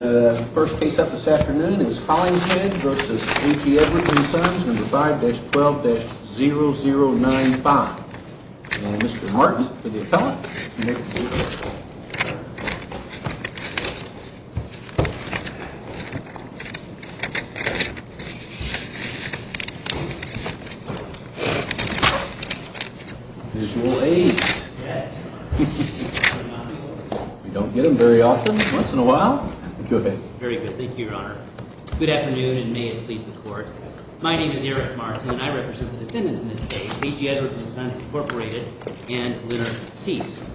The first case up this afternoon is Hollingshead v. A.G. Edwards & Sons, No. 5-12-0095. And Mr. Martin, for the appellant, you may proceed. Visual aids. We don't get them very often. Once in a while. Go ahead. Very good. Thank you, Your Honor. Good afternoon, and may it please the Court. My name is Eric Martin, and I represent the defendants in this case, A.G. Edwards & Sons, Incorporated, and Leonard Cease.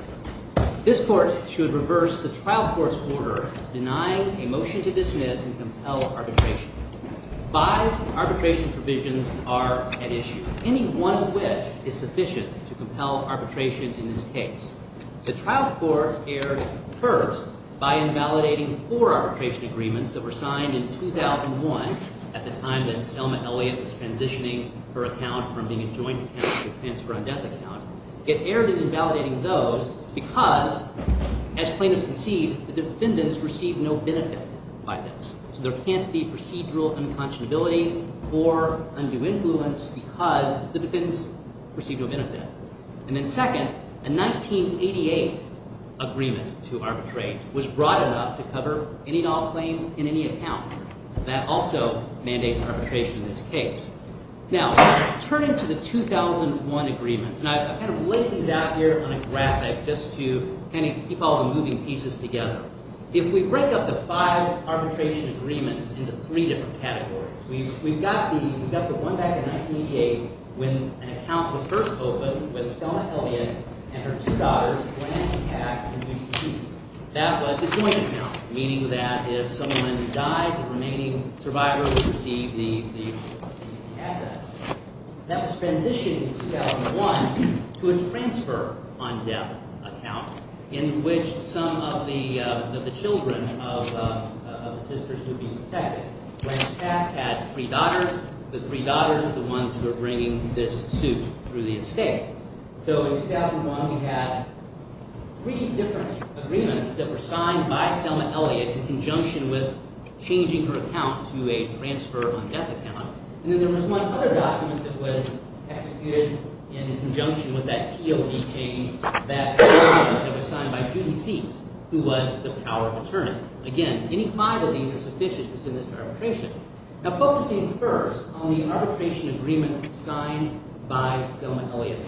This Court should reverse the trial court's order denying a motion to dismiss and compel arbitration. Five arbitration provisions are at issue, any one of which is sufficient to compel arbitration in this case. The trial court erred first by invalidating four arbitration agreements that were signed in 2001, at the time that Selma Elliott was transitioning her account from being a joint account to a transfer-on-death account. It erred in invalidating those because, as plaintiffs concede, the defendants received no benefit by this. So there can't be procedural unconscionability or undue influence because the defendants received no benefit. And then second, a 1988 agreement to arbitrate was broad enough to cover any and all claims in any account. That also mandates arbitration in this case. Now, turning to the 2001 agreements, and I've kind of laid these out here on a graphic just to kind of keep all the moving pieces together. If we break up the five arbitration agreements into three different categories, we've got the one back in 1988 when an account was first opened with Selma Elliott and her two daughters, Blanche and Pat, in the UDCs. That was a joint account, meaning that if someone died, the remaining survivor would receive the assets. That was transitioned in 2001 to a transfer-on-death account in which some of the children of the sisters would be protected. Blanche and Pat had three daughters. The three daughters were the ones who were bringing this suit through the estate. So in 2001, we had three different agreements that were signed by Selma Elliott in conjunction with changing her account to a transfer-on-death account. And then there was one other document that was executed in conjunction with that TLD change that was signed by Judy Seeks, who was the power of attorney. Again, any five of these are sufficient to send this to arbitration. Now, focusing first on the arbitration agreements signed by Selma Elliott,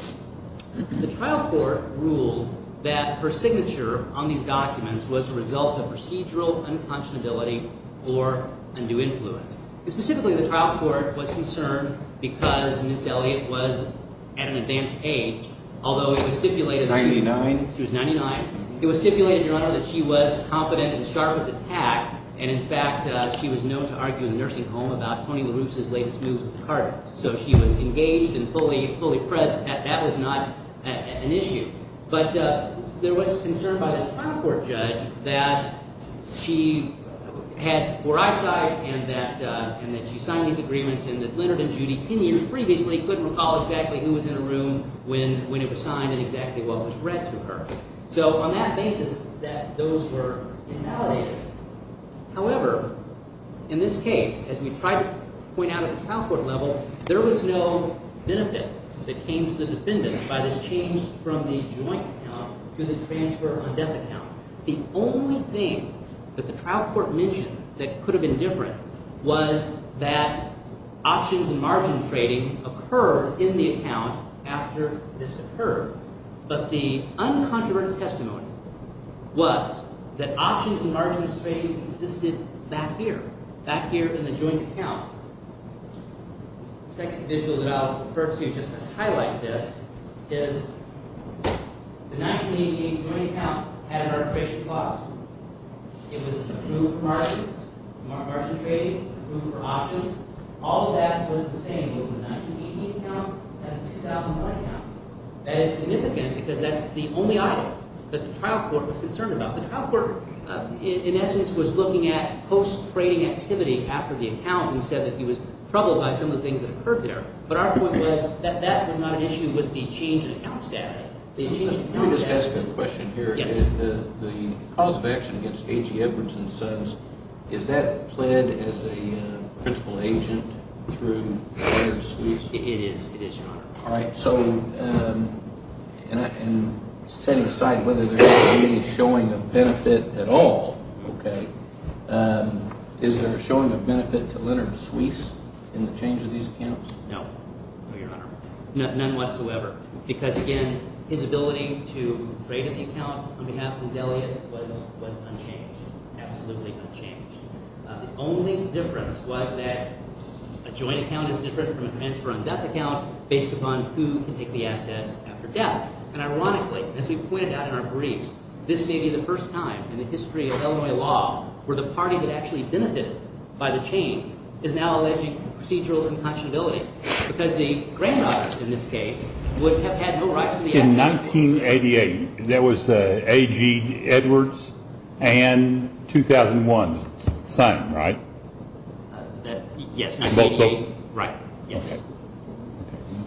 the trial court ruled that her signature on these documents was a result of procedural unconscionability or undue influence. Specifically, the trial court was concerned because Ms. Elliott was at an advanced age, although it was stipulated that she was 99. So she was engaged and fully present. That was not an issue. But there was concern by the trial court judge that she had poor eyesight and that she signed these agreements and that Leonard and Judy, 10 years previously, couldn't recall exactly who was in a room when it was signed and exactly what was read to her. So on that basis, those were invalidated. However, in this case, as we tried to point out at the trial court level, there was no benefit that came to the defendants by this change from the joint account to the transfer-on-death account. The only thing that the trial court mentioned that could have been different was that options and margin trading occurred in the account after this occurred. But the uncontroverted testimony was that options and margin trading existed back here, back here in the joint account. The second issue that I'll purposefully just highlight this is the 1988 joint account had an arbitration clause. It was approved for margins, margin trading, approved for options. All of that was the same with the 1988 account and the 2001 account. That is significant because that's the only item that the trial court was concerned about. The trial court, in essence, was looking at post-trading activity after the account and said that he was troubled by some of the things that occurred there. But our point was that that was not an issue with the change in account status. The change in account status… Let me just ask a question here. Yes. The cause of action against A.G. Edwards and the Sons, is that planned as a principal agent through Leonard and Judy? It is. It is, Your Honor. All right, so in setting aside whether there's any showing of benefit at all, okay, is there a showing of benefit to Leonard Suisse in the change of these accounts? No, no, Your Honor, none whatsoever because, again, his ability to trade in the account on behalf of his Elliot was unchanged, absolutely unchanged. The only difference was that a joint account is different from a transfer-on-debt account based upon who can take the assets after death. And ironically, as we pointed out in our brief, this may be the first time in the history of Illinois law where the party that actually benefited by the change is now alleging procedural unconscionability because the granddaughters, in this case, would have had no rights to the assets. In 1988, there was A.G. Edwards and 2001's son, right? Yes, 1988. Both of them? Right, yes.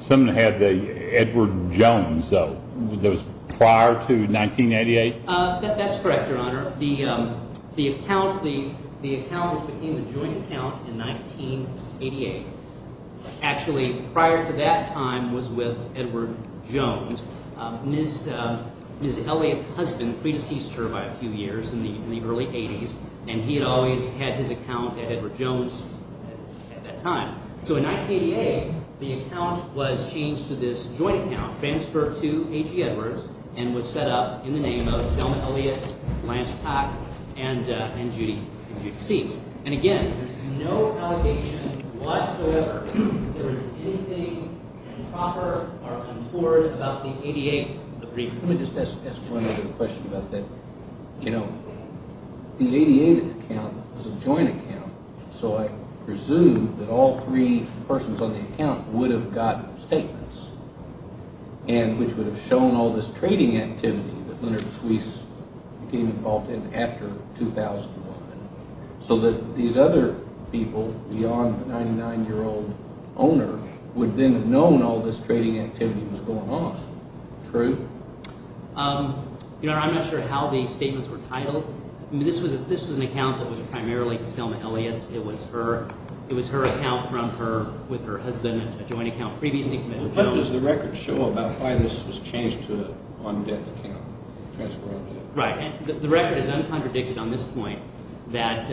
Someone had the Edward Jones, though. That was prior to 1988? That's correct, Your Honor. The account, the account which became the joint account in 1988, actually prior to that time was with Edward Jones. Ms. Elliot's husband pre-deceased her by a few years in the early 80s, and he had always had his account at Edward Jones at that time. So in 1988, the account was changed to this joint account, transferred to A.G. Edwards, and was set up in the name of Selma Elliot, Lance Pack, and Judy DeCease. And again, there's no allegation whatsoever that there was anything improper or untoward about the 1988 agreement. Let me just ask one other question about that. You know, the 1988 account was a joint account, so I presume that all three persons on the account would have gotten statements, and which would have shown all this trading activity that Leonard Suisse became involved in after 2001. So that these other people, beyond the 99-year-old owner, would then have known all this trading activity was going on. True? Your Honor, I'm not sure how the statements were titled. I mean, this was an account that was primarily Selma Elliot's. It was her account from her – with her husband, a joint account previously committed to Jones. What does the record show about why this was changed to an on-debt account, transferred on-debt? Right, and the record is uncontradicted on this point, that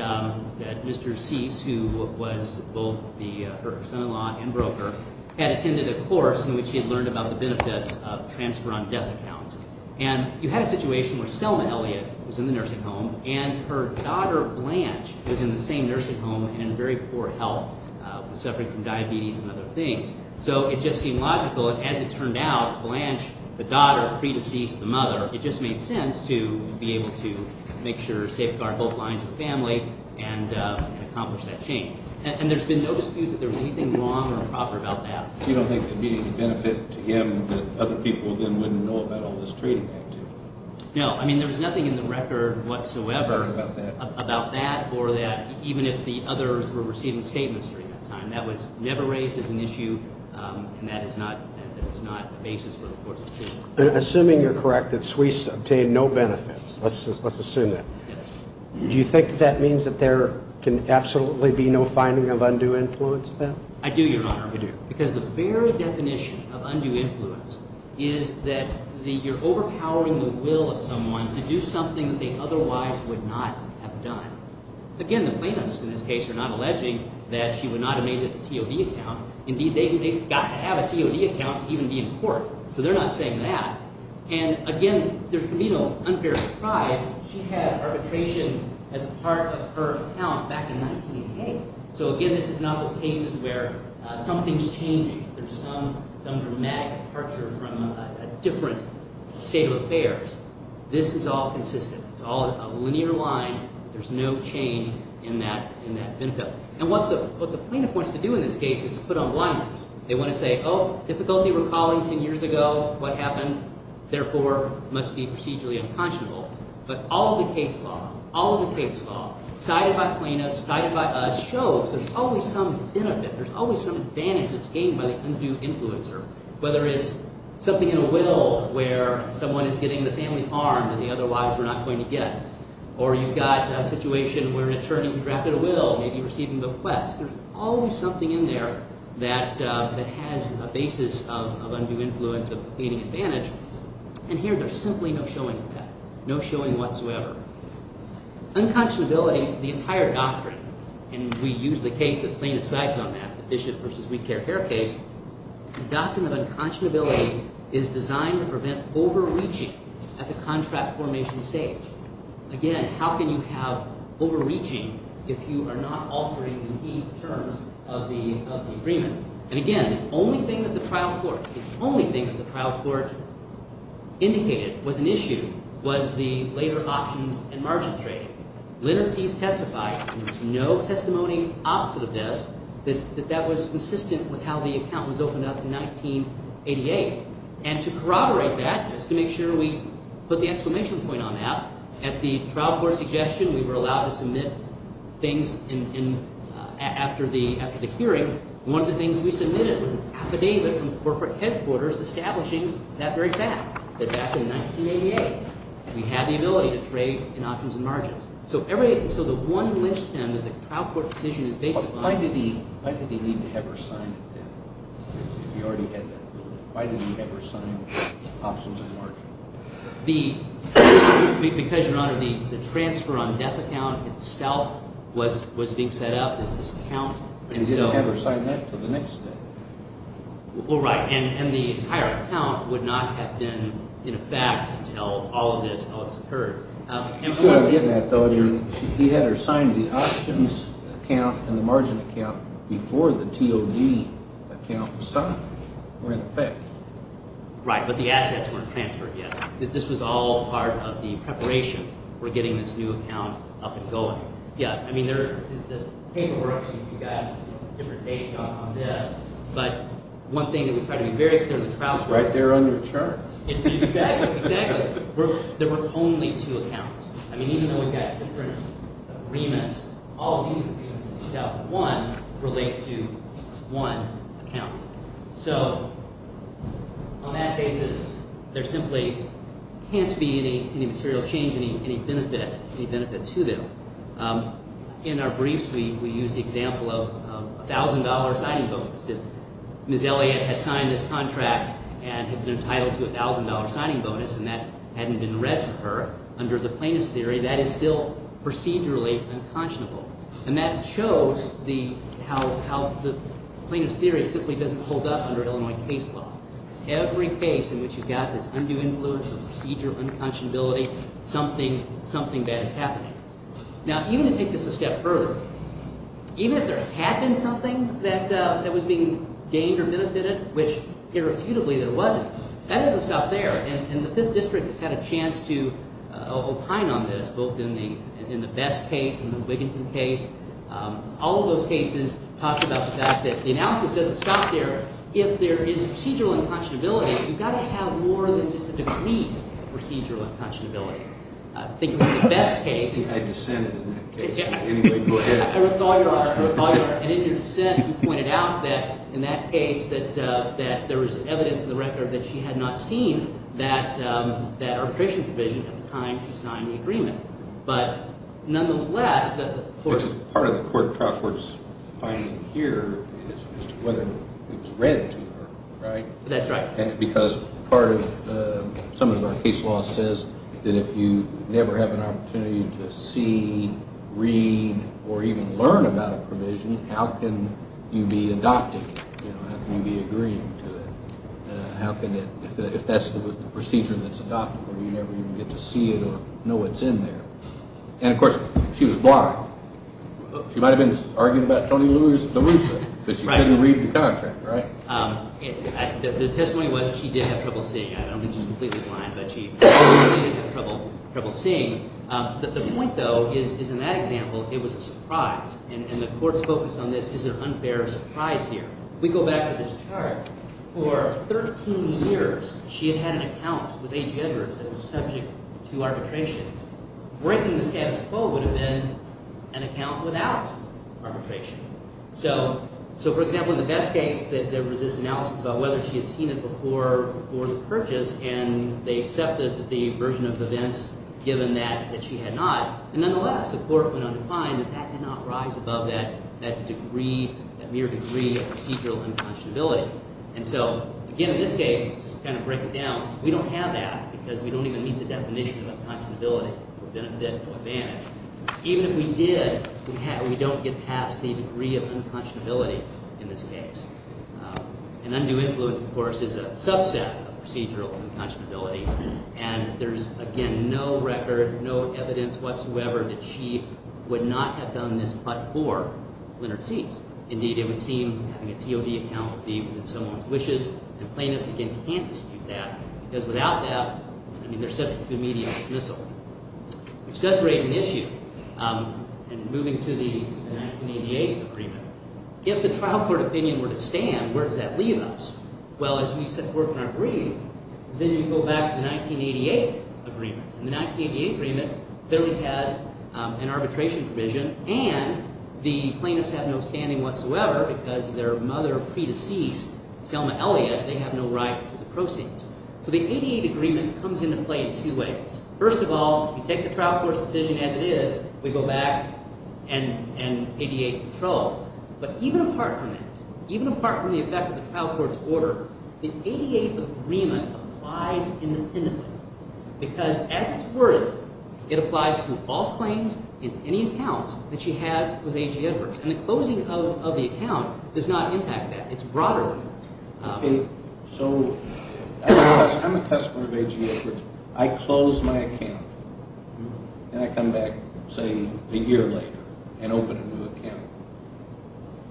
Mr. Suisse, who was both her son-in-law and broker, had attended a course in which he had learned about the benefits of transfer on-debt accounts. And you had a situation where Selma Elliot was in the nursing home, and her daughter Blanche was in the same nursing home and in very poor health, suffering from diabetes and other things. So it just seemed logical, and as it turned out, Blanche, the daughter, pre-deceased the mother, it just made sense to be able to make sure – safeguard both lines of the family and accomplish that change. And there's been no dispute that there was anything wrong or improper about that. You don't think there'd be any benefit to him that other people then wouldn't know about all this trading activity? No. I mean, there was nothing in the record whatsoever about that or that – even if the others were receiving statements during that time. That was never raised as an issue, and that is not the basis for the court's decision. Assuming you're correct that Suisse obtained no benefits, let's assume that. Yes. Do you think that means that there can absolutely be no finding of undue influence then? I do, Your Honor. You do. Because the very definition of undue influence is that you're overpowering the will of someone to do something that they otherwise would not have done. Again, the plaintiffs in this case are not alleging that she would not have made this a TOD account. Indeed, they've got to have a TOD account to even be in court, so they're not saying that. And again, there's going to be no unfair surprise. She had arbitration as a part of her account back in 1988. So again, this is not those cases where something's changing. There's some dramatic departure from a different state of affairs. This is all consistent. It's all a linear line. There's no change in that benefit. And what the plaintiff wants to do in this case is to put on blinders. They want to say, oh, difficulty recalling 10 years ago what happened, therefore must be procedurally unconscionable. But all of the case law, all of the case law, cited by plaintiffs, cited by us, shows there's always some benefit. There's always some advantage that's gained by the undue influencer, whether it's something in a will where someone is getting the family harmed and the otherwise we're not going to get. Or you've got a situation where an attorney drafted a will, maybe receiving a request. There's always something in there that has a basis of undue influence of gaining advantage. And here there's simply no showing of that, no showing whatsoever. Unconscionability, the entire doctrine, and we use the case that plaintiff cites on that, the Bishop v. Weedcare-Hare case, the doctrine of unconscionability is designed to prevent overreaching at the contract formation stage. Again, how can you have overreaching if you are not altering the terms of the agreement? And again, the only thing that the trial court indicated was an issue was the later options and margin trade. Leonard Seas testified, and there's no testimony opposite of this, that that was consistent with how the account was opened up in 1988. And to corroborate that, just to make sure we put the exclamation point on that, at the trial court suggestion we were allowed to submit things after the hearing. One of the things we submitted was an affidavit from the corporate headquarters establishing that very fact, that back in 1988 we had the ability to trade in options and margins. So the one lynchpin that the trial court decision is based upon… Why did he need to have her sign it then if he already had that? Why did he have her sign options and margins? Because, Your Honor, the transfer on death account itself was being set up as this account. But he didn't have her sign that until the next day. Well, right, and the entire account would not have been in effect until all of this else occurred. You see what I'm getting at, though. He had her sign the options account and the margin account before the TOD account was signed or in effect. Right, but the assets weren't transferred yet. This was all part of the preparation for getting this new account up and going. Yeah, I mean there are the paperwork you guys, different dates on this, but one thing that we try to be very clear in the trial court… It's right there on your chart. Exactly, exactly. There were only two accounts. I mean even though we've got different agreements, all of these agreements in 2001 relate to one account. So on that basis, there simply can't be any material change, any benefit to them. In our briefs, we use the example of a $1,000 signing bonus. If Ms. Elliott had signed this contract and had been entitled to a $1,000 signing bonus and that hadn't been read for her under the plaintiff's theory, that is still procedurally unconscionable. And that shows how the plaintiff's theory simply doesn't hold up under Illinois case law. Every case in which you've got this undue influence of procedural unconscionability, something bad is happening. Now, even to take this a step further, even if there had been something that was being gained or benefited, which irrefutably there wasn't, that doesn't stop there. And the Fifth District has had a chance to opine on this, both in the Best case and the Wiginton case. All of those cases talk about the fact that the analysis doesn't stop there. If there is procedural unconscionability, you've got to have more than just a degree of procedural unconscionability. I think in the Best case— I think I dissented in that case. Anyway, go ahead. I recall your argument. I recall your argument. And in your dissent, you pointed out that in that case that there was evidence in the record that she had not seen that arbitration provision at the time she signed the agreement. But nonetheless— Which is part of the court's finding here is whether it's read to her, right? That's right. Because part of—some of our case law says that if you never have an opportunity to see, read, or even learn about a provision, how can you be adopting it? How can you be agreeing to it? If that's the procedure that's adopted, where you never even get to see it or know what's in there. And, of course, she was blind. She might have been arguing about Tony Luisa, but she couldn't read the contract, right? The testimony was she did have trouble seeing. I don't think she was completely blind, but she always did have trouble seeing. The point, though, is in that example, it was a surprise. And the court's focus on this is an unfair surprise here. We go back to this chart. For 13 years, she had had an account with A.G. Edwards that was subject to arbitration. Breaking the status quo would have been an account without arbitration. So, for example, in the best case, there was this analysis about whether she had seen it before the purchase, and they accepted the version of events given that she had not. And, nonetheless, the court went on to find that that did not rise above that degree, that mere degree of procedural unconscionability. And so, again, in this case, just to kind of break it down, we don't have that because we don't even meet the definition of unconscionability or benefit or advantage. Even if we did, we don't get past the degree of unconscionability in this case. And undue influence, of course, is a subset of procedural unconscionability. And there's, again, no record, no evidence whatsoever that she would not have done this but for Leonard Cies. Indeed, it would seem having a TOD account would be within someone's wishes. And plaintiffs, again, can't dispute that because without that, I mean, they're subject to immediate dismissal, which does raise an issue. And moving to the 1988 agreement, if the trial court opinion were to stand, where does that leave us? Well, as we set forth in our brief, then you go back to the 1988 agreement. And the 1988 agreement clearly has an arbitration provision and the plaintiffs have no standing whatsoever because their mother, pre-deceased Selma Elliott, they have no right to the proceeds. So the 88 agreement comes into play in two ways. First of all, we take the trial court's decision as it is. We go back and 88 controls. But even apart from that, even apart from the effect of the trial court's order, the 88 agreement applies independently because as it's worded, it applies to all claims in any accounts that she has with A.G. Edwards. And the closing of the account does not impact that. It's broader than that. So I'm a customer of A.G. Edwards. I close my account and I come back, say, a year later and open a new account.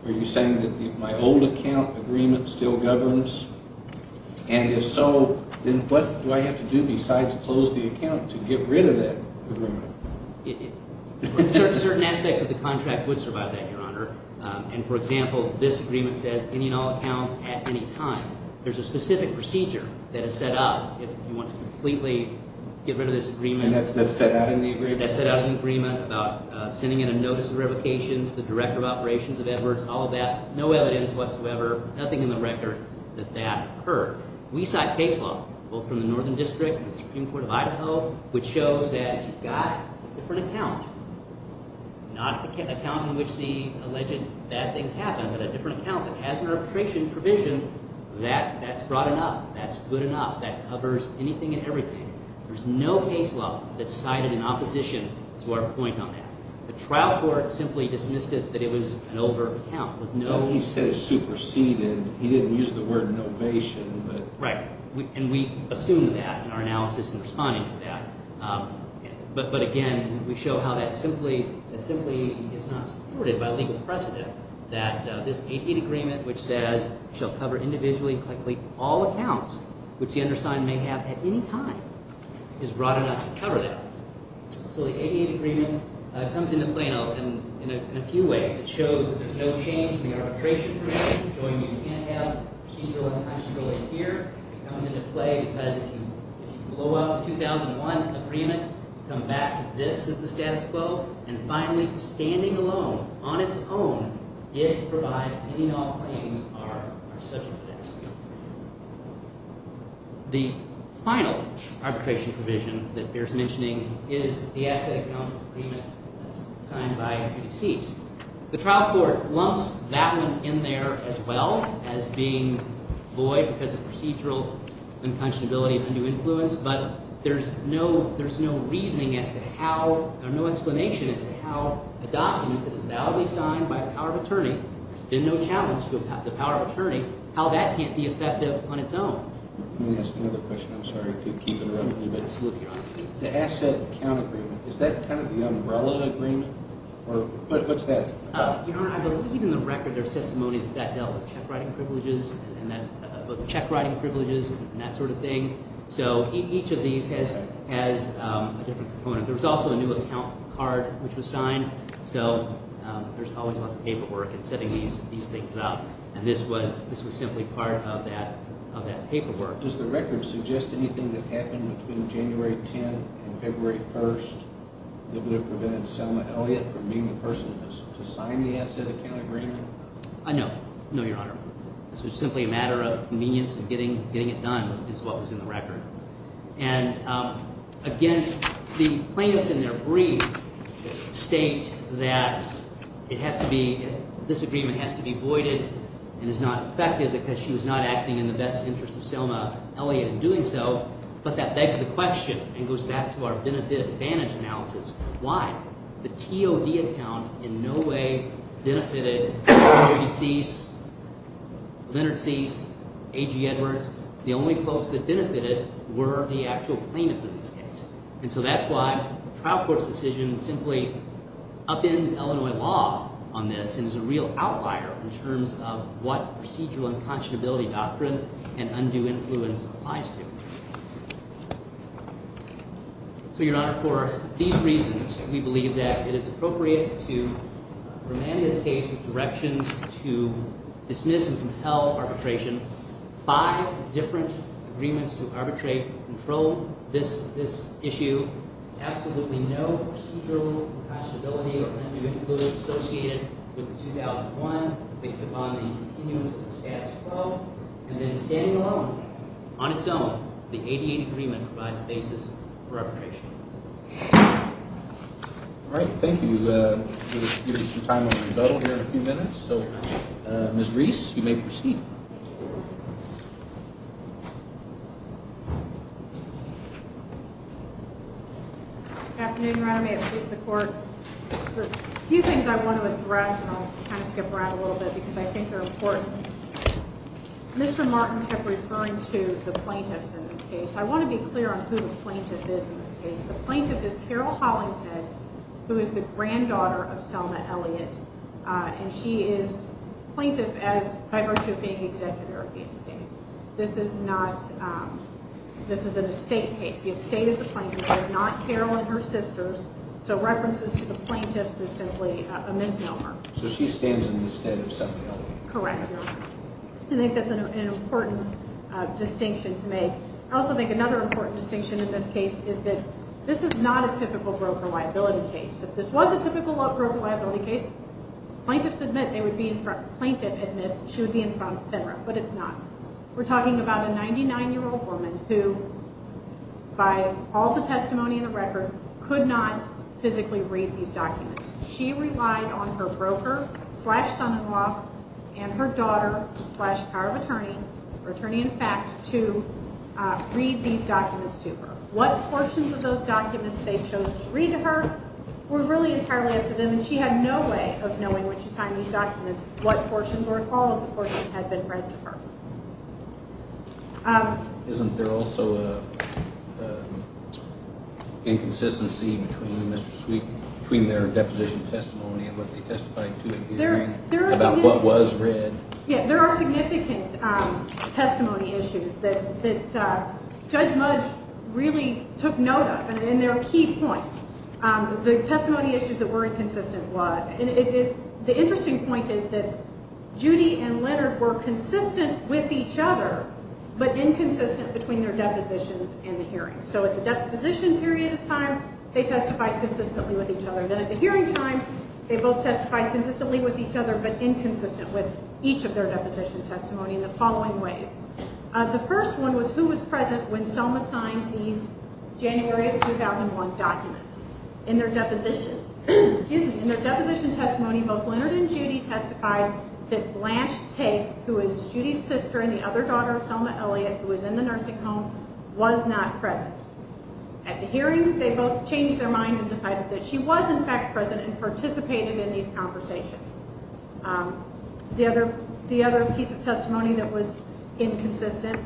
Are you saying that my old account agreement still governs? And if so, then what do I have to do besides close the account to get rid of that agreement? Certain aspects of the contract would survive that, Your Honor. And, for example, this agreement says any and all accounts at any time. There's a specific procedure that is set up if you want to completely get rid of this agreement. And that's set out in the agreement? That's set out in the agreement about sending in a notice of revocation to the director of operations of Edwards, all of that, no evidence whatsoever, nothing in the record that that occurred. We cite case law, both from the Northern District and the Supreme Court of Idaho, which shows that if you've got a different account, not an account in which the alleged bad things happen, but a different account that has an arbitration provision, that's broad enough. That's good enough. That covers anything and everything. There's no case law that's cited in opposition to our point on that. The trial court simply dismissed it that it was an over account with no evidence. Well, he said it superseded it. He didn't use the word novation. Right. And we assume that in our analysis in responding to that. But, again, we show how that simply is not supported by legal precedent, that this 88 Agreement, which says shall cover individually and collectively all accounts, which the undersigned may have at any time, is broad enough to cover that. So the 88 Agreement comes into play in a few ways. It shows that there's no change in the arbitration provision, showing you can't have procedural and non-procedural in here. It comes into play because if you blow up the 2001 Agreement, come back, this is the status quo. And finally, standing alone, on its own, it provides that any and all claims are subject to that. The final arbitration provision that bears mentioning is the Asset Account Agreement that's signed by Judy Sieves. The trial court lumps that one in there as well as being void because of procedural unconscionability and undue influence. But there's no reasoning as to how – or no explanation as to how a document that is validly signed by the power of attorney, with no challenge to the power of attorney, how that can't be effective on its own. Let me ask another question. I'm sorry to keep interrupting you, but the Asset Account Agreement, is that kind of the umbrella agreement, or what's that about? I believe in the record there's testimony that that dealt with check-writing privileges and that's – check-writing privileges and that sort of thing. So each of these has a different component. There was also a new account card which was signed. So there's always lots of paperwork in setting these things up, and this was simply part of that paperwork. Does the record suggest anything that happened between January 10th and February 1st that would have prevented Selma Elliott from being the person to sign the Asset Account Agreement? I know. I know, Your Honor. This was simply a matter of convenience and getting it done is what was in the record. And again, the plaintiffs in their brief state that it has to be – this agreement has to be voided and is not effective because she was not acting in the best interest of Selma Elliott in doing so. But that begs the question and goes back to our benefit advantage analysis. Why? The TOD account in no way benefited Judy Cease, Leonard Cease, A.G. Edwards. The only folks that benefited were the actual plaintiffs in this case, and so that's why the trial court's decision simply upends Illinois law on this and is a real outlier in terms of what procedural unconscionability doctrine and undue influence applies to. So, Your Honor, for these reasons, we believe that it is appropriate to remand this case with directions to dismiss and compel arbitration. Five different agreements to arbitrate control this issue. Absolutely no procedural unconscionability or undue influence associated with the 2001 based upon the continuance of the status quo. And then standing alone, on its own, the 88 Agreement provides a basis for arbitration. All right, thank you. We'll give you some time on rebuttal here in a few minutes. So, Ms. Reese, you may proceed. Good afternoon, Your Honor. May it please the Court? There are a few things I want to address, and I'll kind of skip around a little bit because I think they're important. Mr. Martin kept referring to the plaintiffs in this case. I want to be clear on who the plaintiff is in this case. The plaintiff is Carol Hollingshead, who is the granddaughter of Selma Elliott, and she is a plaintiff by virtue of being the executor of the estate. This is an estate case. The estate of the plaintiff is not Carol and her sister's, so references to the plaintiffs is simply a misnomer. So she stands in the estate of Selma Elliott? Correct, Your Honor. I think that's an important distinction to make. I also think another important distinction in this case is that this is not a typical broker liability case. If this was a typical broker liability case, plaintiffs admit they would be in front – the plaintiff admits she would be in front of FINRA, but it's not. We're talking about a 99-year-old woman who, by all the testimony in the record, could not physically read these documents. She relied on her broker, slash son-in-law, and her daughter, slash power of attorney, or attorney-in-fact, to read these documents to her. What portions of those documents they chose to read to her were really entirely up to them, and she had no way of knowing when she signed these documents what portions or if all of the portions had been read to her. Isn't there also an inconsistency between their deposition testimony and what they testified to in hearing about what was read? Yeah, there are significant testimony issues that Judge Mudge really took note of, and there are key points. The testimony issues that were inconsistent was – and the interesting point is that Judy and Leonard were consistent with each other, but inconsistent between their depositions and the hearing. So at the deposition period of time, they testified consistently with each other. Then at the hearing time, they both testified consistently with each other, but inconsistent with each of their deposition testimony in the following ways. The first one was who was present when Selma signed these January of 2001 documents. In their deposition testimony, both Leonard and Judy testified that Blanche Take, who is Judy's sister and the other daughter of Selma Elliott, who is in the nursing home, was not present. At the hearing, they both changed their mind and decided that she was, in fact, present and participated in these conversations. The other piece of testimony that was inconsistent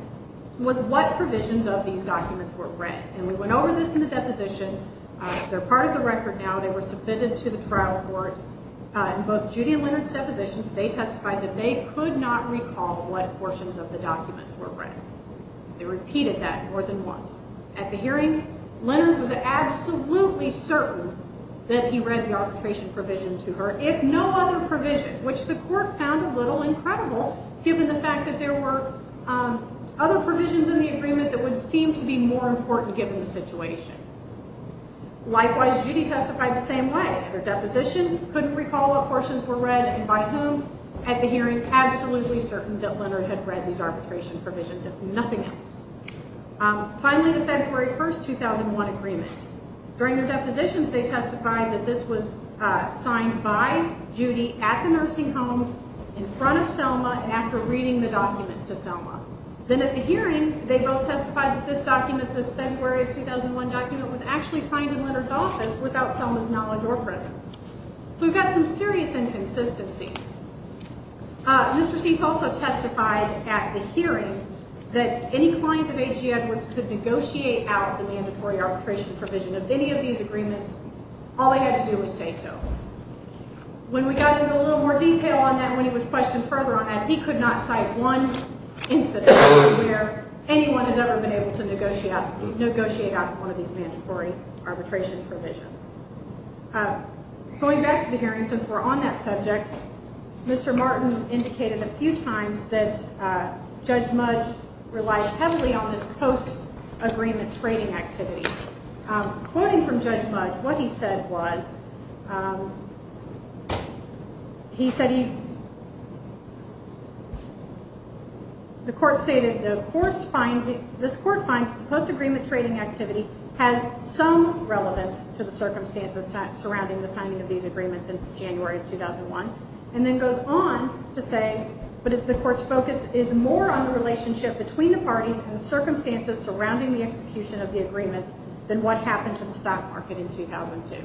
was what provisions of these documents were read. And we went over this in the deposition. They're part of the record now. They were submitted to the trial court. In both Judy and Leonard's depositions, they testified that they could not recall what portions of the documents were read. They repeated that more than once. At the hearing, Leonard was absolutely certain that he read the arbitration provision to her. If no other provision, which the court found a little incredible given the fact that there were other provisions in the agreement that would seem to be more important given the situation. Likewise, Judy testified the same way. At her deposition, couldn't recall what portions were read and by whom. At the hearing, absolutely certain that Leonard had read these arbitration provisions, if nothing else. Finally, the February 1, 2001 agreement. During their depositions, they testified that this was signed by Judy at the nursing home, in front of Selma, and after reading the document to Selma. Then at the hearing, they both testified that this document, this February 2001 document, was actually signed in Leonard's office without Selma's knowledge or presence. So we've got some serious inconsistencies. Mr. Cease also testified at the hearing that any client of A.G. Edwards could negotiate out the mandatory arbitration provision of any of these agreements. All they had to do was say so. When we got into a little more detail on that, when he was questioned further on that, he could not cite one instance where anyone has ever been able to negotiate out one of these mandatory arbitration provisions. Going back to the hearing, since we're on that subject, Mr. Martin indicated a few times that Judge Mudge relied heavily on this post-agreement trading activity. Quoting from Judge Mudge, what he said was, he said he... The court stated, this court finds the post-agreement trading activity has some relevance to the circumstances surrounding the signing of these agreements in January of 2001, and then goes on to say that the court's focus is more on the relationship between the parties and the circumstances surrounding the execution of the agreements than what happened to the stock market in 2002.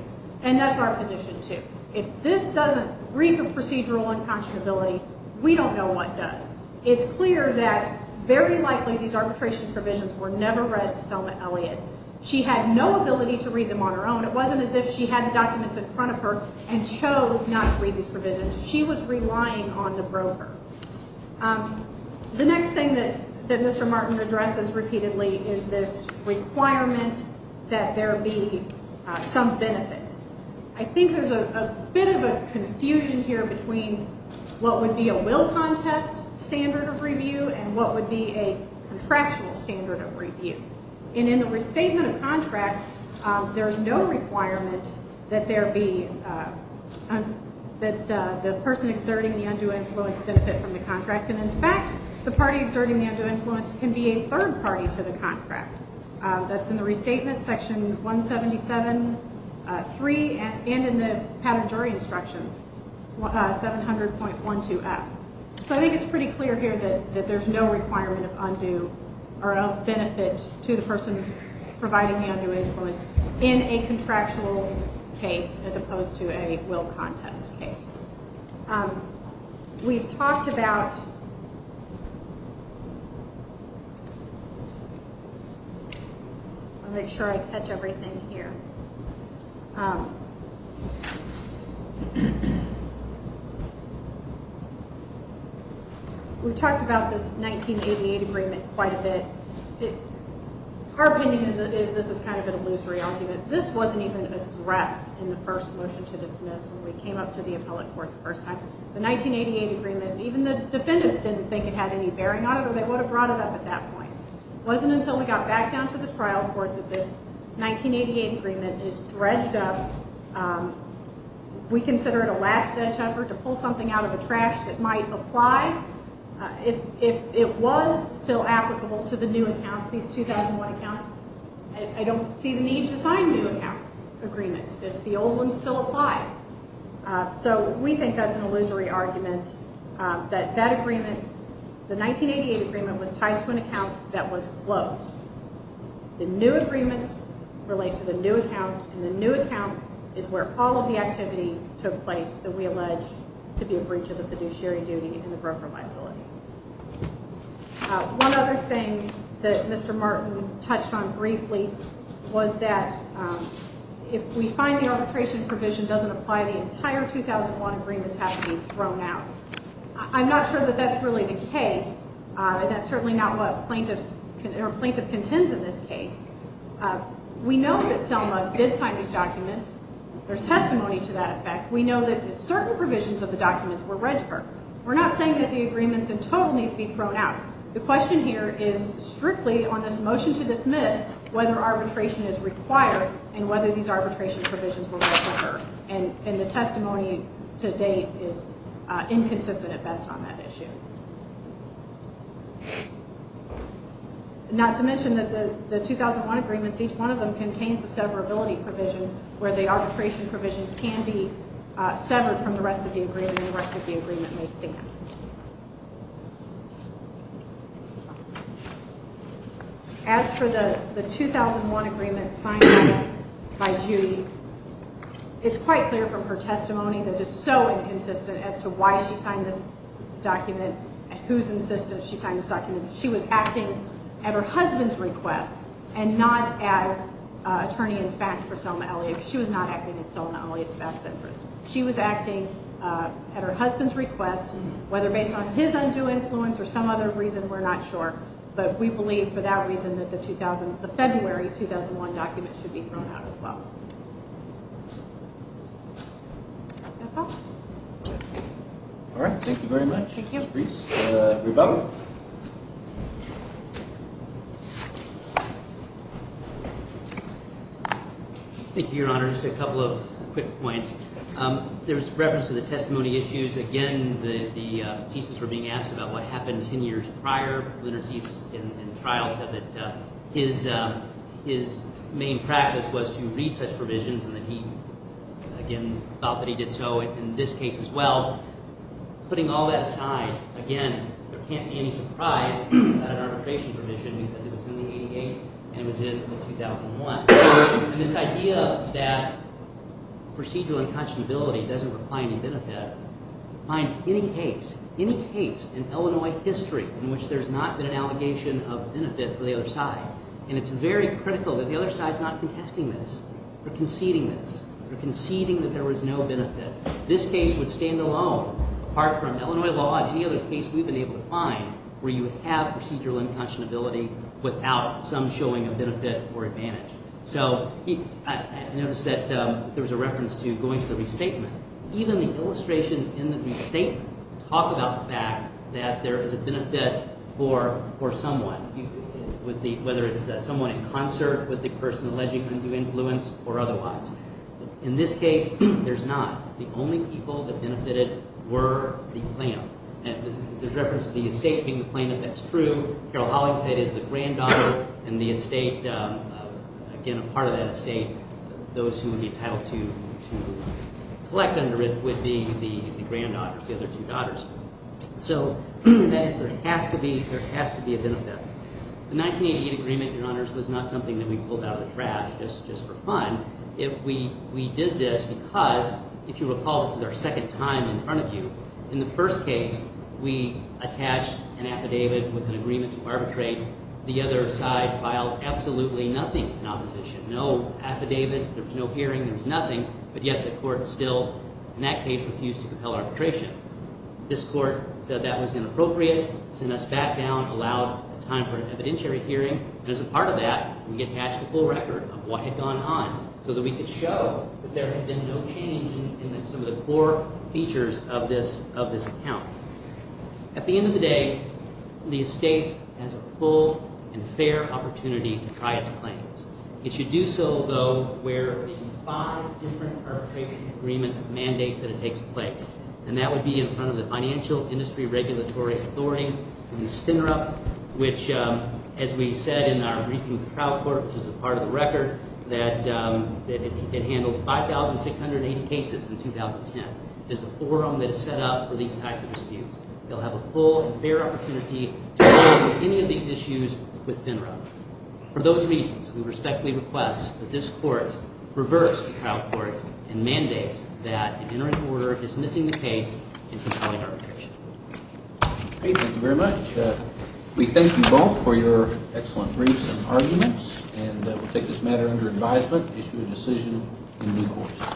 And that's our position, too. If this doesn't read the procedural unconscionability, we don't know what does. It's clear that very likely these arbitration provisions were never read to Selma Elliott. She had no ability to read them on her own. It wasn't as if she had the documents in front of her and chose not to read these provisions. She was relying on the broker. The next thing that Mr. Martin addresses repeatedly is this requirement that there be some benefit. I think there's a bit of a confusion here between what would be a will contest standard of review and what would be a contractual standard of review. And in the restatement of contracts, there is no requirement that there be... that the person exerting the undue influence benefit from the contract. And, in fact, the party exerting the undue influence can be a third party to the contract. That's in the restatement, Section 177.3, and in the patent jury instructions, 700.12F. So I think it's pretty clear here that there's no requirement of undue or of benefit to the person providing the undue influence in a contractual case as opposed to a will contest case. We've talked about... I'll make sure I catch everything here. We've talked about this 1988 agreement quite a bit. Our opinion is this is kind of an illusory argument. This wasn't even addressed in the first motion to dismiss when we came up to the appellate court the first time. The 1988 agreement, even the defendants didn't think it had any bearing on it or they would have brought it up at that point. It wasn't until we got back down to the trial court that this 1988 agreement is dredged up. We consider it a last-ditch effort to pull something out of the trash that might apply. If it was still applicable to the new accounts, these 2001 accounts, I don't see the need to sign new account agreements if the old ones still apply. So we think that's an illusory argument that that agreement, the 1988 agreement, was tied to an account that was closed. The new agreements relate to the new account, and the new account is where all of the activity took place that we allege to be a breach of the fiduciary duty and the broker liability. One other thing that Mr. Martin touched on briefly was that if we find the arbitration provision doesn't apply, the entire 2001 agreements have to be thrown out. I'm not sure that that's really the case, and that's certainly not what a plaintiff contends in this case. We know that Selma did sign these documents. There's testimony to that effect. We know that certain provisions of the documents were read to her. We're not saying that the agreements in total need to be thrown out. The question here is strictly on this motion to dismiss whether arbitration is required and whether these arbitration provisions were read to her, and the testimony to date is inconsistent at best on that issue. Not to mention that the 2001 agreements, each one of them contains a severability provision where the arbitration provision can be severed from the rest of the agreement and the rest of the agreement may stand. As for the 2001 agreement signed by Judy, it's quite clear from her testimony that it's so inconsistent as to why she signed this document and whose insistence she signed this document. She was acting at her husband's request and not as attorney-in-fact for Selma Elliott because she was not acting in Selma Elliott's best interest. She was acting at her husband's request, whether based on his undue influence or some other reason, we're not sure, but we believe for that reason that the February 2001 document should be thrown out as well. That's all. All right. Thank you very much, Ms. Breese. Thank you. Rebecca? Thank you, Your Honor. Just a couple of quick points. There's reference to the testimony issues. Again, the thesis were being asked about what happened 10 years prior. Leonard Zies in trial said that his main practice was to read such provisions and that he, again, felt that he did so. In this case as well, putting all that aside, again, there can't be any surprise that an arbitration provision, because it was in the 88 and it was in the 2001. And this idea that procedural unconscionability doesn't require any benefit, find any case, any case in Illinois history in which there's not been an allegation of benefit for the other side. And it's very critical that the other side's not contesting this or conceding this that this case would stand alone apart from Illinois law and any other case we've been able to find where you have procedural unconscionability without some showing of benefit or advantage. So I noticed that there was a reference to going to the restatement. Even the illustrations in the restatement talk about the fact that there is a benefit for someone, whether it's someone in concert with the person alleging undue influence or otherwise. In this case, there's not. The only people that benefited were the plaintiff. And there's reference to the estate being the plaintiff. That's true. Carol Hollings said it is the granddaughter and the estate, again, a part of that estate, those who would be entitled to collect under it would be the granddaughters, the other two daughters. So that is there has to be a benefit. The 1988 agreement, Your Honors, was not something that we pulled out of the trash just for fun. We did this because, if you recall, this is our second time in front of you. In the first case, we attached an affidavit with an agreement to arbitrate. The other side filed absolutely nothing in opposition, no affidavit. There was no hearing. There was nothing. But yet the court still in that case refused to compel arbitration. This court said that was inappropriate, sent us back down, allowed time for an evidentiary hearing. And as a part of that, we attached a full record of what had gone on so that we could show that there had been no change in some of the core features of this account. At the end of the day, the estate has a full and fair opportunity to try its claims. It should do so, though, where the five different arbitration agreements mandate that it takes place. And that would be in front of the Financial Industry Regulatory Authority, the FINRA, which, as we said in our briefing with the trial court, which is a part of the record, that it handled 5,680 cases in 2010. There's a forum that is set up for these types of disputes. They'll have a full and fair opportunity to address any of these issues with FINRA. For those reasons, we respectfully request that this court reverse the trial court and mandate that an interim order dismissing the case and compelling arbitration. Thank you very much. We thank you both for your excellent briefs and arguments, and we'll take this matter under advisement and issue a decision in due course.